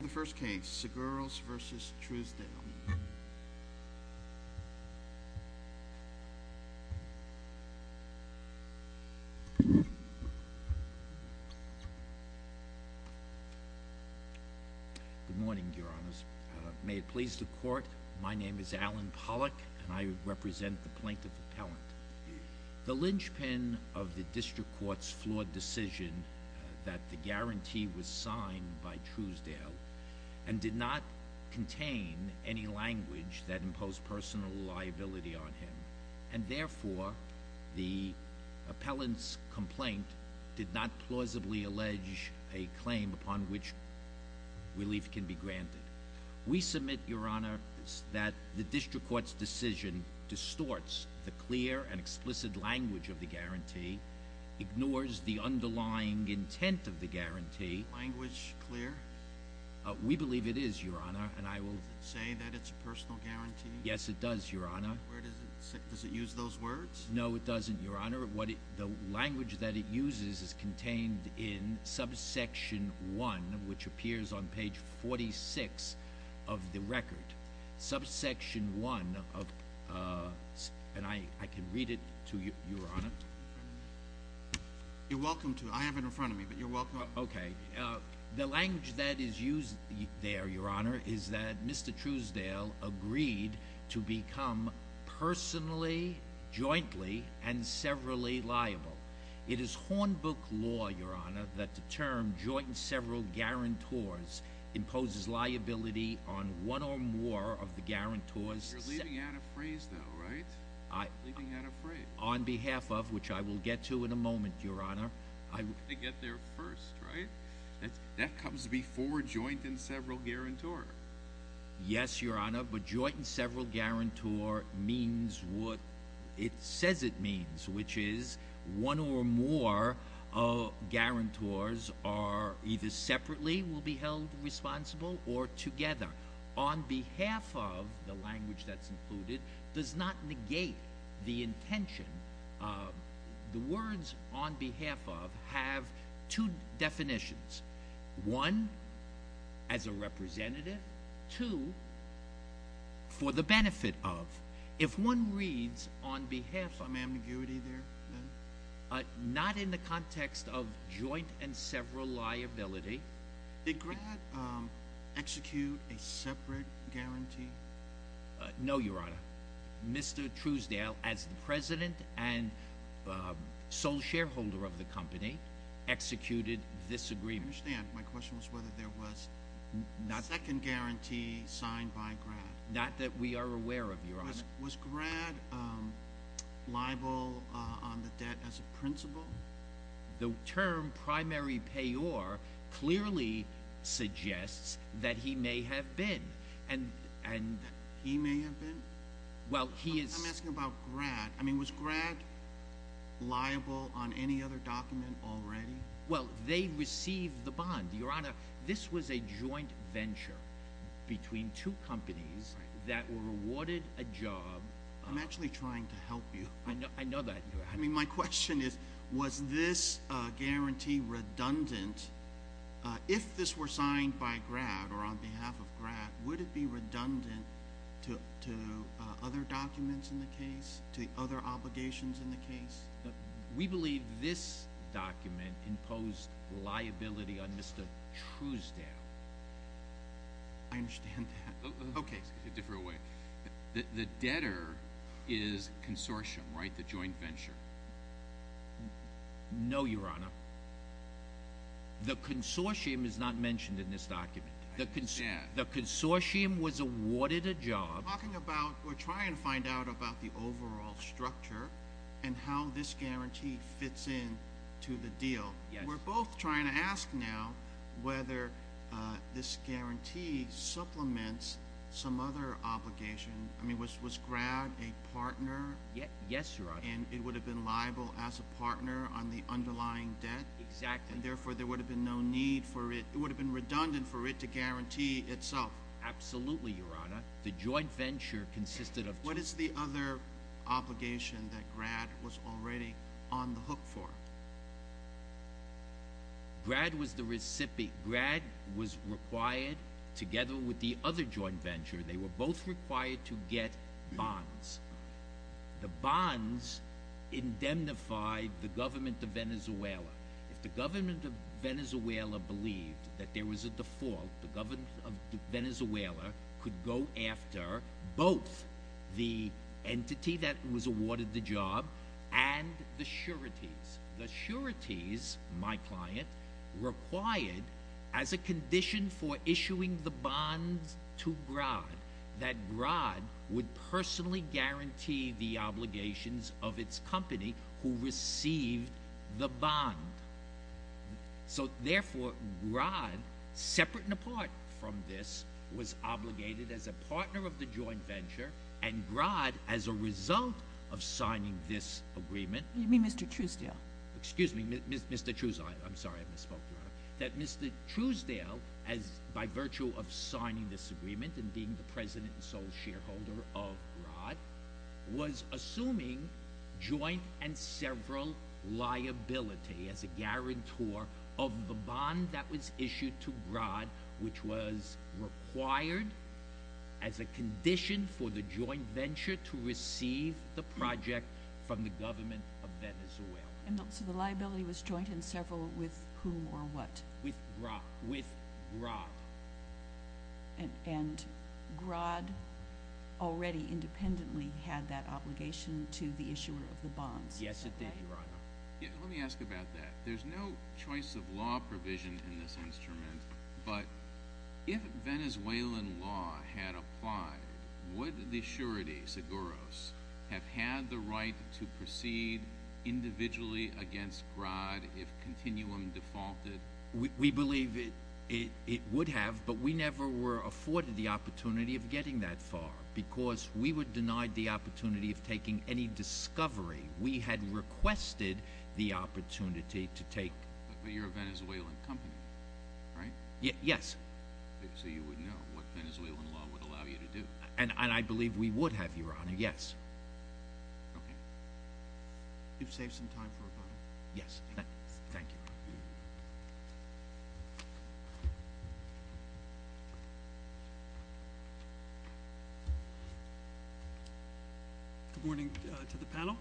The first case, Seguros v. Truesdale. Good morning, Your Honors. May it please the Court, my name is Alan Pollack, and I represent the Plaintiff Appellant. The linchpin of the District Court's flawed decision that the guarantee was signed by Truesdale, and did not contain any language that imposed personal liability on him, and therefore, the appellant's complaint did not plausibly allege a claim upon which relief can be granted. We submit, Your Honor, that the District Court's decision distorts the clear and explicit language of the guarantee, ignores the underlying intent of the guarantee. Is the language clear? We believe it is, Your Honor, and I will- Does it say that it's a personal guarantee? Yes, it does, Your Honor. Does it use those words? No, it doesn't, Your Honor. The language that it uses is contained in subsection 1, which appears on page 46 of the record. Subsection 1, and I can read it to you, Your Honor. You're welcome to. I have it in front of me, but you're welcome. Okay. The language that is used there, Your Honor, is that Mr. Truesdale agreed to become personally, jointly, and severally liable. It is Hornbook law, Your Honor, that the term joint and several guarantors imposes liability on one or more of the guarantors- You're leaving out a phrase, though, right? I- You're leaving out a phrase. On behalf of, which I will get to in a moment, Your Honor- We're going to get there first, right? That comes before joint and several guarantor. Yes, Your Honor, but joint and several guarantor means what it says it means, which is one or more guarantors are either separately will be held responsible or together. On behalf of, the language that's included, does not negate the intention. The words on behalf of have two definitions. One, as a representative. Two, for the benefit of. If one reads on behalf of- Some ambiguity there, then? Not in the context of joint and several liability. Did Grad execute a separate guarantee? No, Your Honor. Mr. Truesdale, as the president and sole shareholder of the company, executed this agreement. I understand. My question was whether there was a second guarantee signed by Grad. Not that we are aware of, Your Honor. Was Grad liable on the debt as a principal? The term primary payor clearly suggests that he may have been. He may have been? Well, he is- I'm asking about Grad. I mean, was Grad liable on any other document already? Well, they received the bond, Your Honor. This was a joint venture between two companies that were awarded a job- I'm actually trying to help you. I know that. I mean, my question is, was this guarantee redundant? If this were signed by Grad or on behalf of Grad, would it be redundant to other documents in the case? To other obligations in the case? We believe this document imposed liability on Mr. Truesdale. I understand that. Okay. It's a different way. The debtor is consortium, right? The joint venture. No, Your Honor. The consortium is not mentioned in this document. I understand. The consortium was awarded a job- We're talking about- we're trying to find out about the overall structure and how this guarantee fits in to the deal. We're both trying to ask now whether this guarantee supplements some other obligation. I mean, was Grad a partner? Yes, Your Honor. And it would have been liable as a partner on the underlying debt? Exactly. And therefore, there would have been no need for it- it would have been redundant for it to guarantee itself. Absolutely, Your Honor. The joint venture consisted of two- What is the other obligation that Grad was already on the hook for? Grad was the recipient. Grad was required, together with the other joint venture, they were both required to get bonds. The bonds indemnified the government of Venezuela. If the government of Venezuela believed that there was a default, the government of Venezuela could go after both the entity that was awarded the job and the sureties. The sureties, my client, required, as a condition for issuing the bonds to Grad, that Grad would personally guarantee the obligations of its company who received the bond. So, therefore, Grad, separate and apart from this, was obligated as a partner of the joint venture, and Grad, as a result of signing this agreement- You mean Mr. Truesdale? Excuse me, Mr. Truesdale. I'm sorry I misspoke, Your Honor. That Mr. Truesdale, by virtue of signing this agreement and being the president and sole shareholder of Grad, was assuming joint and several liability as a guarantor of the bond that was issued to Grad, which was required as a condition for the joint venture to receive the project from the government of Venezuela. So the liability was joint and several with whom or what? With Grad. And Grad already independently had that obligation to the issuer of the bonds, is that right? Yes, it did, Your Honor. Let me ask about that. There's no choice of law provision in this instrument, but if Venezuelan law had applied, would the surety, Seguros, have had the right to proceed individually against Grad if continuum defaulted? We believe it would have, but we never were afforded the opportunity of getting that far because we were denied the opportunity of taking any discovery. We had requested the opportunity to take- But you're a Venezuelan company, right? Yes. So you would know what Venezuelan law would allow you to do. And I believe we would have, Your Honor, yes. You've saved some time for about a minute. Yes. Thank you. Good morning to the panel.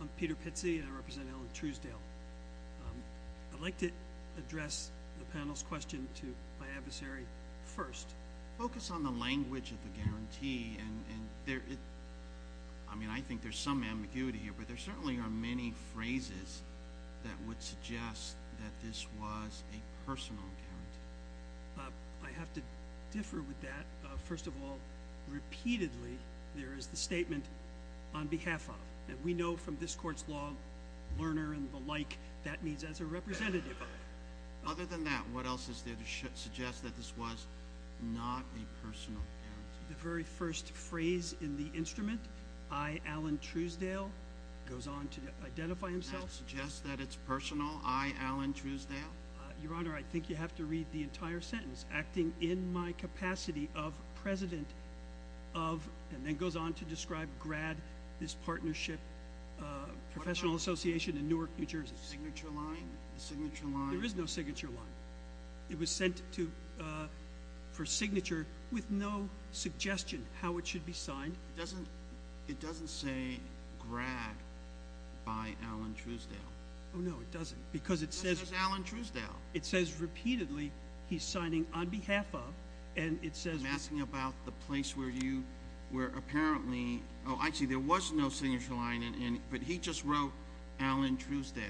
I'm Peter Pizzi, and I represent Alan Truesdale. I'd like to address the panel's question to my adversary first. Focus on the language of the guarantee. I mean, I think there's some ambiguity here, but there certainly are many phrases that would suggest that this was a personal guarantee. I have to differ with that. First of all, repeatedly, there is the statement, on behalf of, that we know from this court's law, learner and the like, that means as a representative of. Other than that, what else is there to suggest that this was not a personal guarantee? The very first phrase in the instrument, I, Alan Truesdale, goes on to identify himself. That suggests that it's personal, I, Alan Truesdale? Your Honor, I think you have to read the entire sentence. Acting in my capacity of president of, and then goes on to describe GRAD, this partnership professional association in Newark, New Jersey. Signature line? Signature line? There is no signature line. It was sent for signature with no suggestion how it should be signed. It doesn't say GRAD by Alan Truesdale. Oh, no, it doesn't, because it says- It says Alan Truesdale. It says, repeatedly, he's signing on behalf of, and it says- I'm talking about the place where you, where apparently, oh, actually, there was no signature line, but he just wrote Alan Truesdale.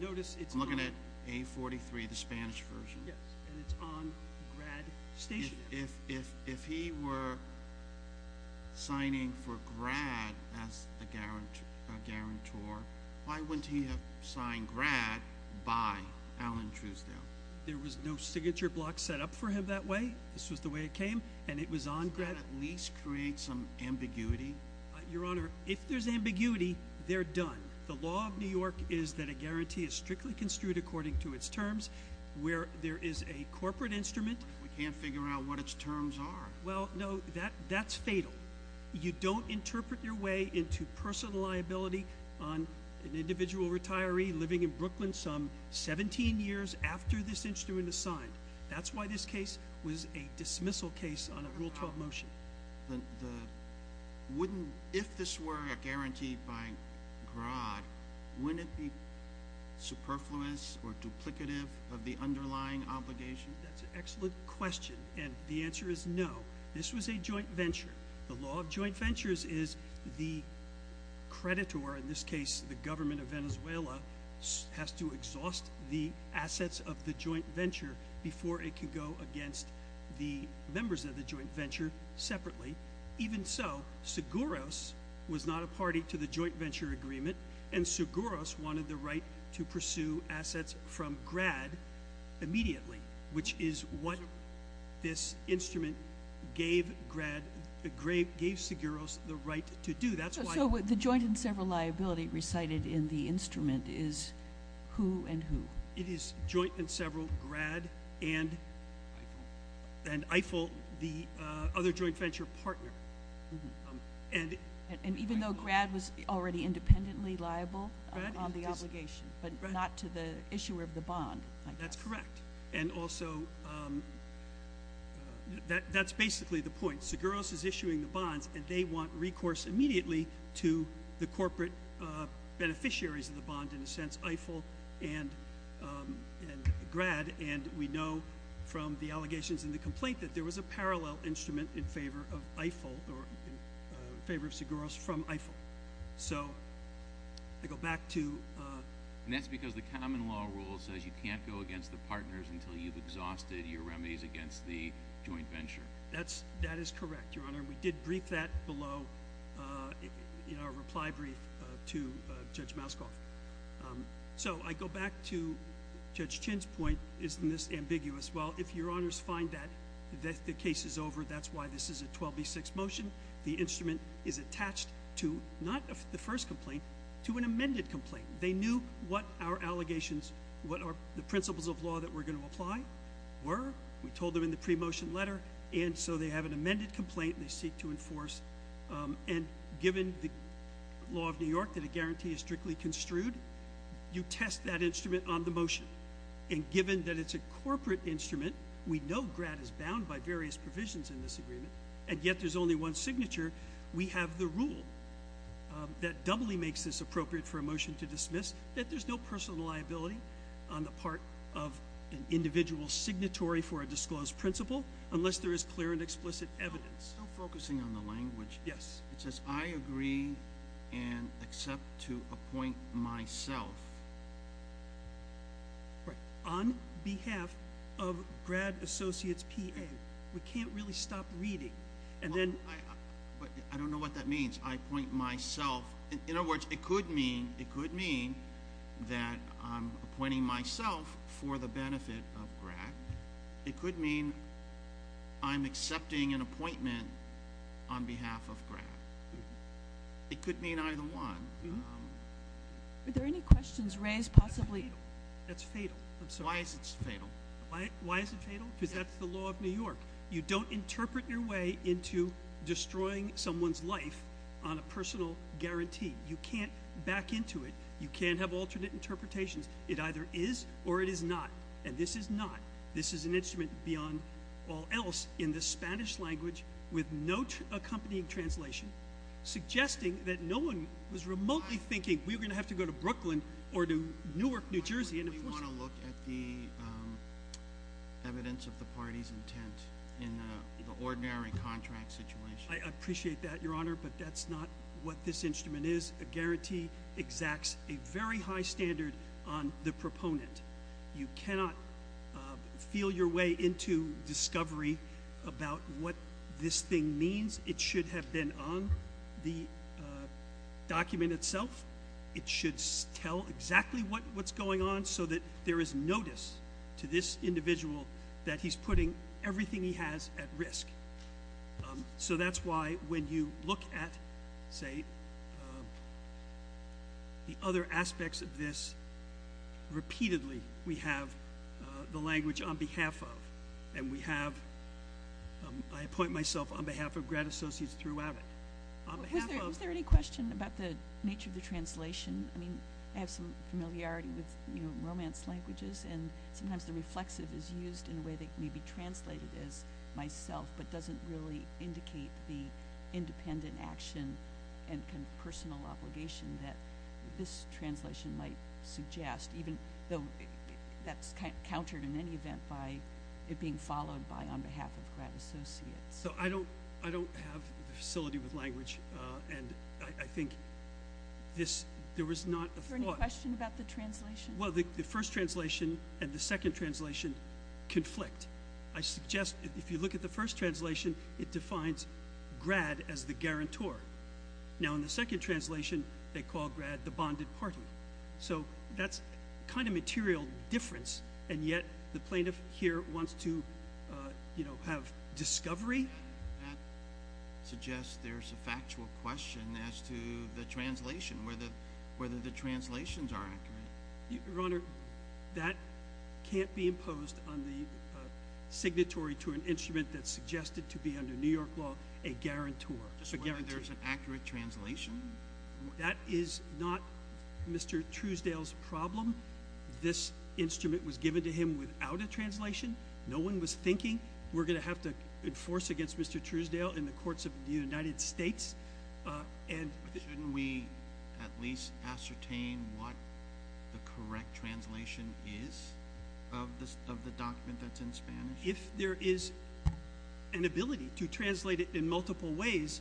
Notice it's- I'm looking at A43, the Spanish version. Yes, and it's on GRAD station. If he were signing for GRAD as a guarantor, why wouldn't he have signed GRAD by Alan Truesdale? There was no signature block set up for him that way. This was the way it came, and it was on GRAD- Is that at least create some ambiguity? Your Honor, if there's ambiguity, they're done. The law of New York is that a guarantee is strictly construed according to its terms. Where there is a corporate instrument- We can't figure out what its terms are. Well, no, that's fatal. You don't interpret your way into personal liability on an individual retiree living in Brooklyn some 17 years after this instrument is signed. That's why this case was a dismissal case on a Rule 12 motion. If this were a guarantee by GRAD, wouldn't it be superfluous or duplicative of the underlying obligation? That's an excellent question, and the answer is no. This was a joint venture. The law of joint ventures is the creditor- In this case, the government of Venezuela- has to exhaust the assets of the joint venture before it can go against the members of the joint venture separately. Even so, Seguros was not a party to the joint venture agreement, and Seguros wanted the right to pursue assets from GRAD immediately, which is what this instrument gave Seguros the right to do. So the joint and several liability recited in the instrument is who and who? It is joint and several, GRAD and EIFL, the other joint venture partner. And even though GRAD was already independently liable on the obligation, but not to the issuer of the bond, I guess. That's correct, and also that's basically the point. Seguros is issuing the bonds, and they want recourse immediately to the corporate beneficiaries of the bond, in a sense, EIFL and GRAD. And we know from the allegations in the complaint that there was a parallel instrument in favor of EIFL or in favor of Seguros from EIFL. So I go back to- And that's because the common law rule says you can't go against the partners until you've exhausted your remedies against the joint venture. That is correct, Your Honor, and we did brief that below in our reply brief to Judge Maskoff. So I go back to Judge Chin's point, isn't this ambiguous? Well, if Your Honors find that the case is over, that's why this is a 12B6 motion. The instrument is attached to not the first complaint, to an amended complaint. They knew what our allegations, what the principles of law that we're going to apply were. We told them in the pre-motion letter, and so they have an amended complaint they seek to enforce. And given the law of New York that a guarantee is strictly construed, you test that instrument on the motion. And given that it's a corporate instrument, we know GRAD is bound by various provisions in this agreement, and yet there's only one signature. We have the rule that doubly makes this appropriate for a motion to dismiss, that there's no personal liability on the part of an individual signatory for a disclosed principle unless there is clear and explicit evidence. Still focusing on the language. Yes. It says, I agree and accept to appoint myself. Right. On behalf of GRAD Associates PA. We can't really stop reading. I don't know what that means. I appoint myself. In other words, it could mean that I'm appointing myself for the benefit of GRAD. It could mean I'm accepting an appointment on behalf of GRAD. It could mean either one. Are there any questions raised possibly? That's fatal. I'm sorry. Why is it fatal? Because that's the law of New York. You don't interpret your way into destroying someone's life on a personal guarantee. You can't back into it. You can't have alternate interpretations. It either is or it is not. And this is not. This is an instrument beyond all else in the Spanish language with no accompanying translation, suggesting that no one was remotely thinking we were going to have to go to Brooklyn or to Newark, New Jersey. We want to look at the evidence of the party's intent in the ordinary contract situation. I appreciate that, Your Honor, but that's not what this instrument is. A guarantee exacts a very high standard on the proponent. You cannot feel your way into discovery about what this thing means. It should have been on the document itself. It should tell exactly what's going on. Just so that there is notice to this individual that he's putting everything he has at risk. So that's why when you look at, say, the other aspects of this, repeatedly we have the language on behalf of and we have, I appoint myself on behalf of grad associates throughout it. Is there any question about the nature of the translation? I mean, I have some familiarity with, you know, romance languages, and sometimes the reflexive is used in a way that may be translated as myself but doesn't really indicate the independent action and personal obligation that this translation might suggest, even though that's countered in any event by it being followed by on behalf of grad associates. So I don't have the facility with language, and I think there was not a thought. Is there any question about the translation? Well, the first translation and the second translation conflict. I suggest if you look at the first translation, it defines grad as the guarantor. Now, in the second translation, they call grad the bonded party. So that's kind of material difference, and yet the plaintiff here wants to, you know, have discovery. That suggests there's a factual question as to the translation, whether the translations are accurate. Your Honor, that can't be imposed on the signatory to an instrument that's suggested to be under New York law a guarantor. Just whether there's an accurate translation? That is not Mr. Truesdale's problem. This instrument was given to him without a translation. No one was thinking we're going to have to enforce against Mr. Truesdale in the courts of the United States. Shouldn't we at least ascertain what the correct translation is of the document that's in Spanish? If there is an ability to translate it in multiple ways,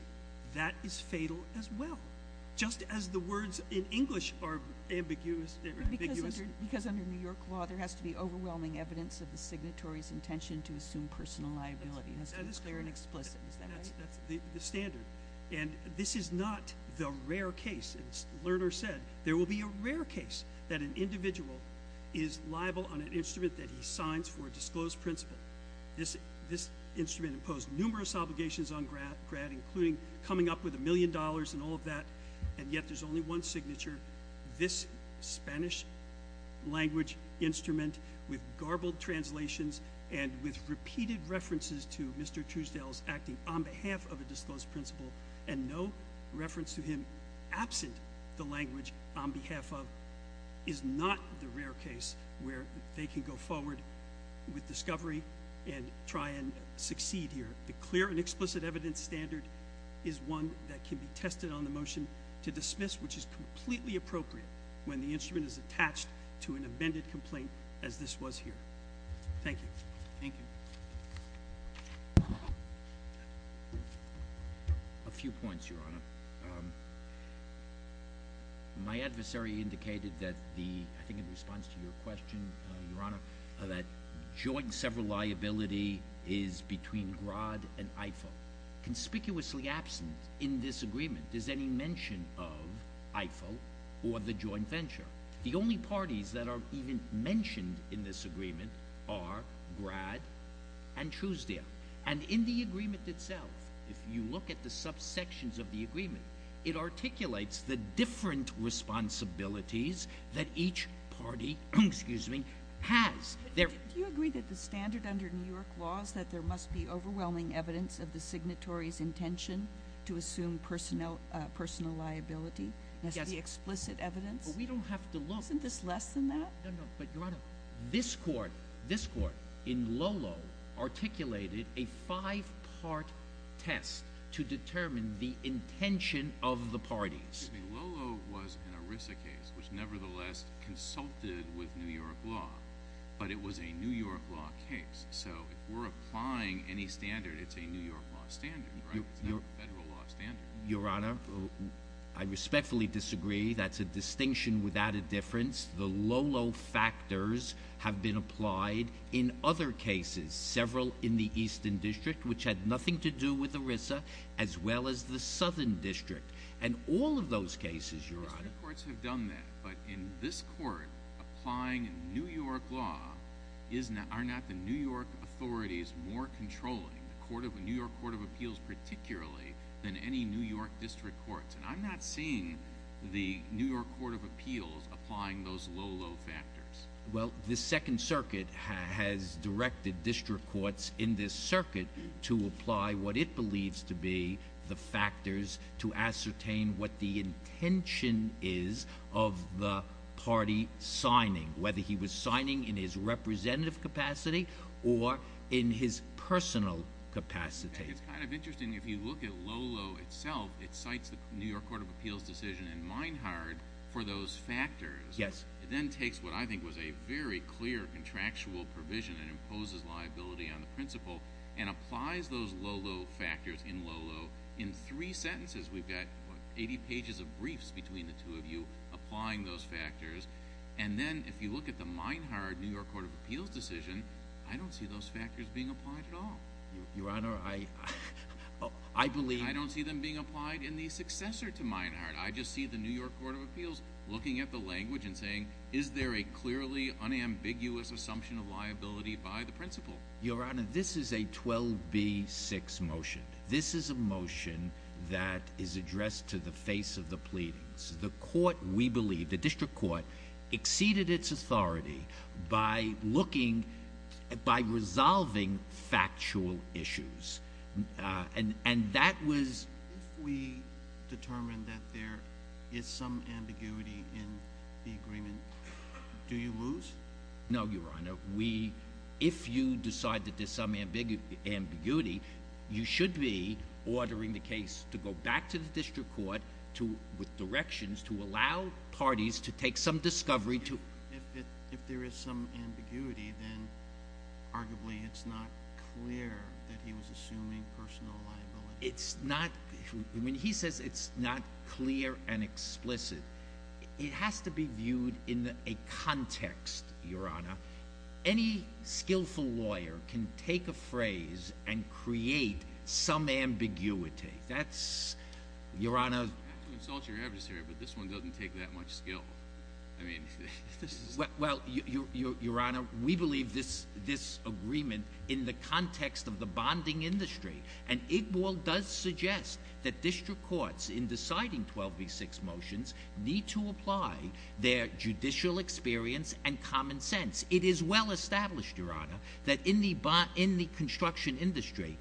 that is fatal as well, just as the words in English are ambiguous. Because under New York law, there has to be overwhelming evidence of the signatory's intention to assume personal liability. It has to be clear and explicit. That's the standard, and this is not the rare case. As Lerner said, there will be a rare case that an individual is liable on an instrument that he signs for a disclosed principle. This instrument imposed numerous obligations on Grad, including coming up with a million dollars and all of that, and yet there's only one signature. This Spanish language instrument with garbled translations and with repeated references to Mr. Truesdale's acting on behalf of a disclosed principle and no reference to him absent the language on behalf of is not the rare case where they can go forward with discovery and try and succeed here. The clear and explicit evidence standard is one that can be tested on the motion to dismiss, which is completely appropriate when the instrument is attached to an amended complaint as this was here. Thank you. Thank you. A few points, Your Honor. My adversary indicated that the—I think in response to your question, Your Honor, that joint several liability is between Grad and IFA. Conspicuously absent in this agreement is any mention of IFA or the joint venture. The only parties that are even mentioned in this agreement are Grad and Truesdale. And in the agreement itself, if you look at the subsections of the agreement, it articulates the different responsibilities that each party has. Do you agree that the standard under New York law is that there must be overwhelming evidence of the signatory's intention to assume personal liability? Yes. The explicit evidence? Well, we don't have to look— Isn't this less than that? No, no. But, Your Honor, this Court in Lolo articulated a five-part test to determine the intention of the parties. Excuse me. Lolo was an ERISA case, which nevertheless consulted with New York law, but it was a New York law case. So if we're applying any standard, it's a New York law standard, right? It's not a federal law standard. Your Honor, I respectfully disagree. That's a distinction without a difference. The Lolo factors have been applied in other cases, several in the Eastern District, which had nothing to do with ERISA, as well as the Southern District. And all of those cases, Your Honor— District courts have done that, but in this Court, applying New York law, are not the New York authorities more controlling the New York Court of Appeals particularly than any New York district courts? And I'm not seeing the New York Court of Appeals applying those Lolo factors. Well, the Second Circuit has directed district courts in this circuit to apply what it believes to be the factors to ascertain what the intention is of the party signing, whether he was signing in his representative capacity or in his personal capacity. It's kind of interesting. If you look at Lolo itself, it cites the New York Court of Appeals decision in Meinhard for those factors. Yes. It then takes what I think was a very clear contractual provision and imposes liability on the principal and applies those Lolo factors in Lolo in three sentences. We've got 80 pages of briefs between the two of you applying those factors. And then if you look at the Meinhard New York Court of Appeals decision, I don't see those factors being applied at all. Your Honor, I believe— I don't see them being applied in the successor to Meinhard. I just see the New York Court of Appeals looking at the language and saying, is there a clearly unambiguous assumption of liability by the principal? Your Honor, this is a 12B6 motion. This is a motion that is addressed to the face of the pleadings. The District Court exceeded its authority by looking—by resolving factual issues. And that was— If we determine that there is some ambiguity in the agreement, do you lose? No, Your Honor. If you decide that there's some ambiguity, you should be ordering the case to go back to the District Court with directions to allow parties to take some discovery to— If there is some ambiguity, then arguably it's not clear that he was assuming personal liability. It's not—I mean, he says it's not clear and explicit. It has to be viewed in a context, Your Honor. Any skillful lawyer can take a phrase and create some ambiguity. That's—Your Honor— You have to insult your adversary, but this one doesn't take that much skill. I mean, this is— Well, Your Honor, we believe this agreement in the context of the bonding industry. And IGBAL does suggest that District Courts, in deciding 12v6 motions, need to apply their judicial experience and common sense. It is well established, Your Honor, that in the construction industry,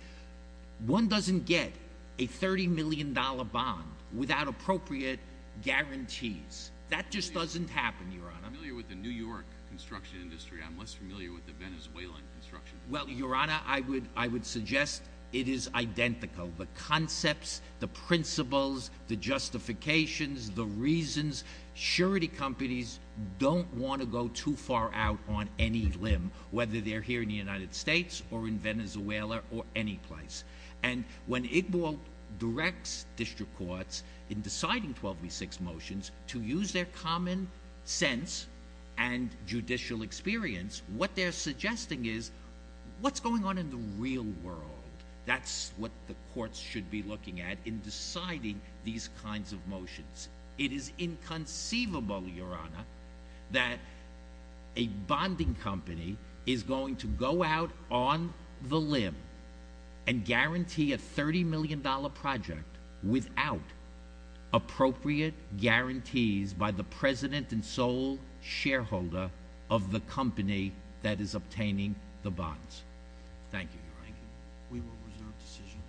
one doesn't get a $30 million bond without appropriate guarantees. That just doesn't happen, Your Honor. I'm familiar with the New York construction industry. I'm less familiar with the Venezuelan construction industry. Well, Your Honor, I would suggest it is identical, the concepts, the principles, the justifications, the reasons. Surety companies don't want to go too far out on any limb, whether they're here in the United States or in Venezuela or any place. And when IGBAL directs District Courts, in deciding 12v6 motions, to use their common sense and judicial experience, what they're suggesting is what's going on in the real world. That's what the courts should be looking at in deciding these kinds of motions. It is inconceivable, Your Honor, that a bonding company is going to go out on the limb and guarantee a $30 million project without appropriate guarantees by the president and sole shareholder of the company that is obtaining the bonds. Thank you, Your Honor. We will reserve decision.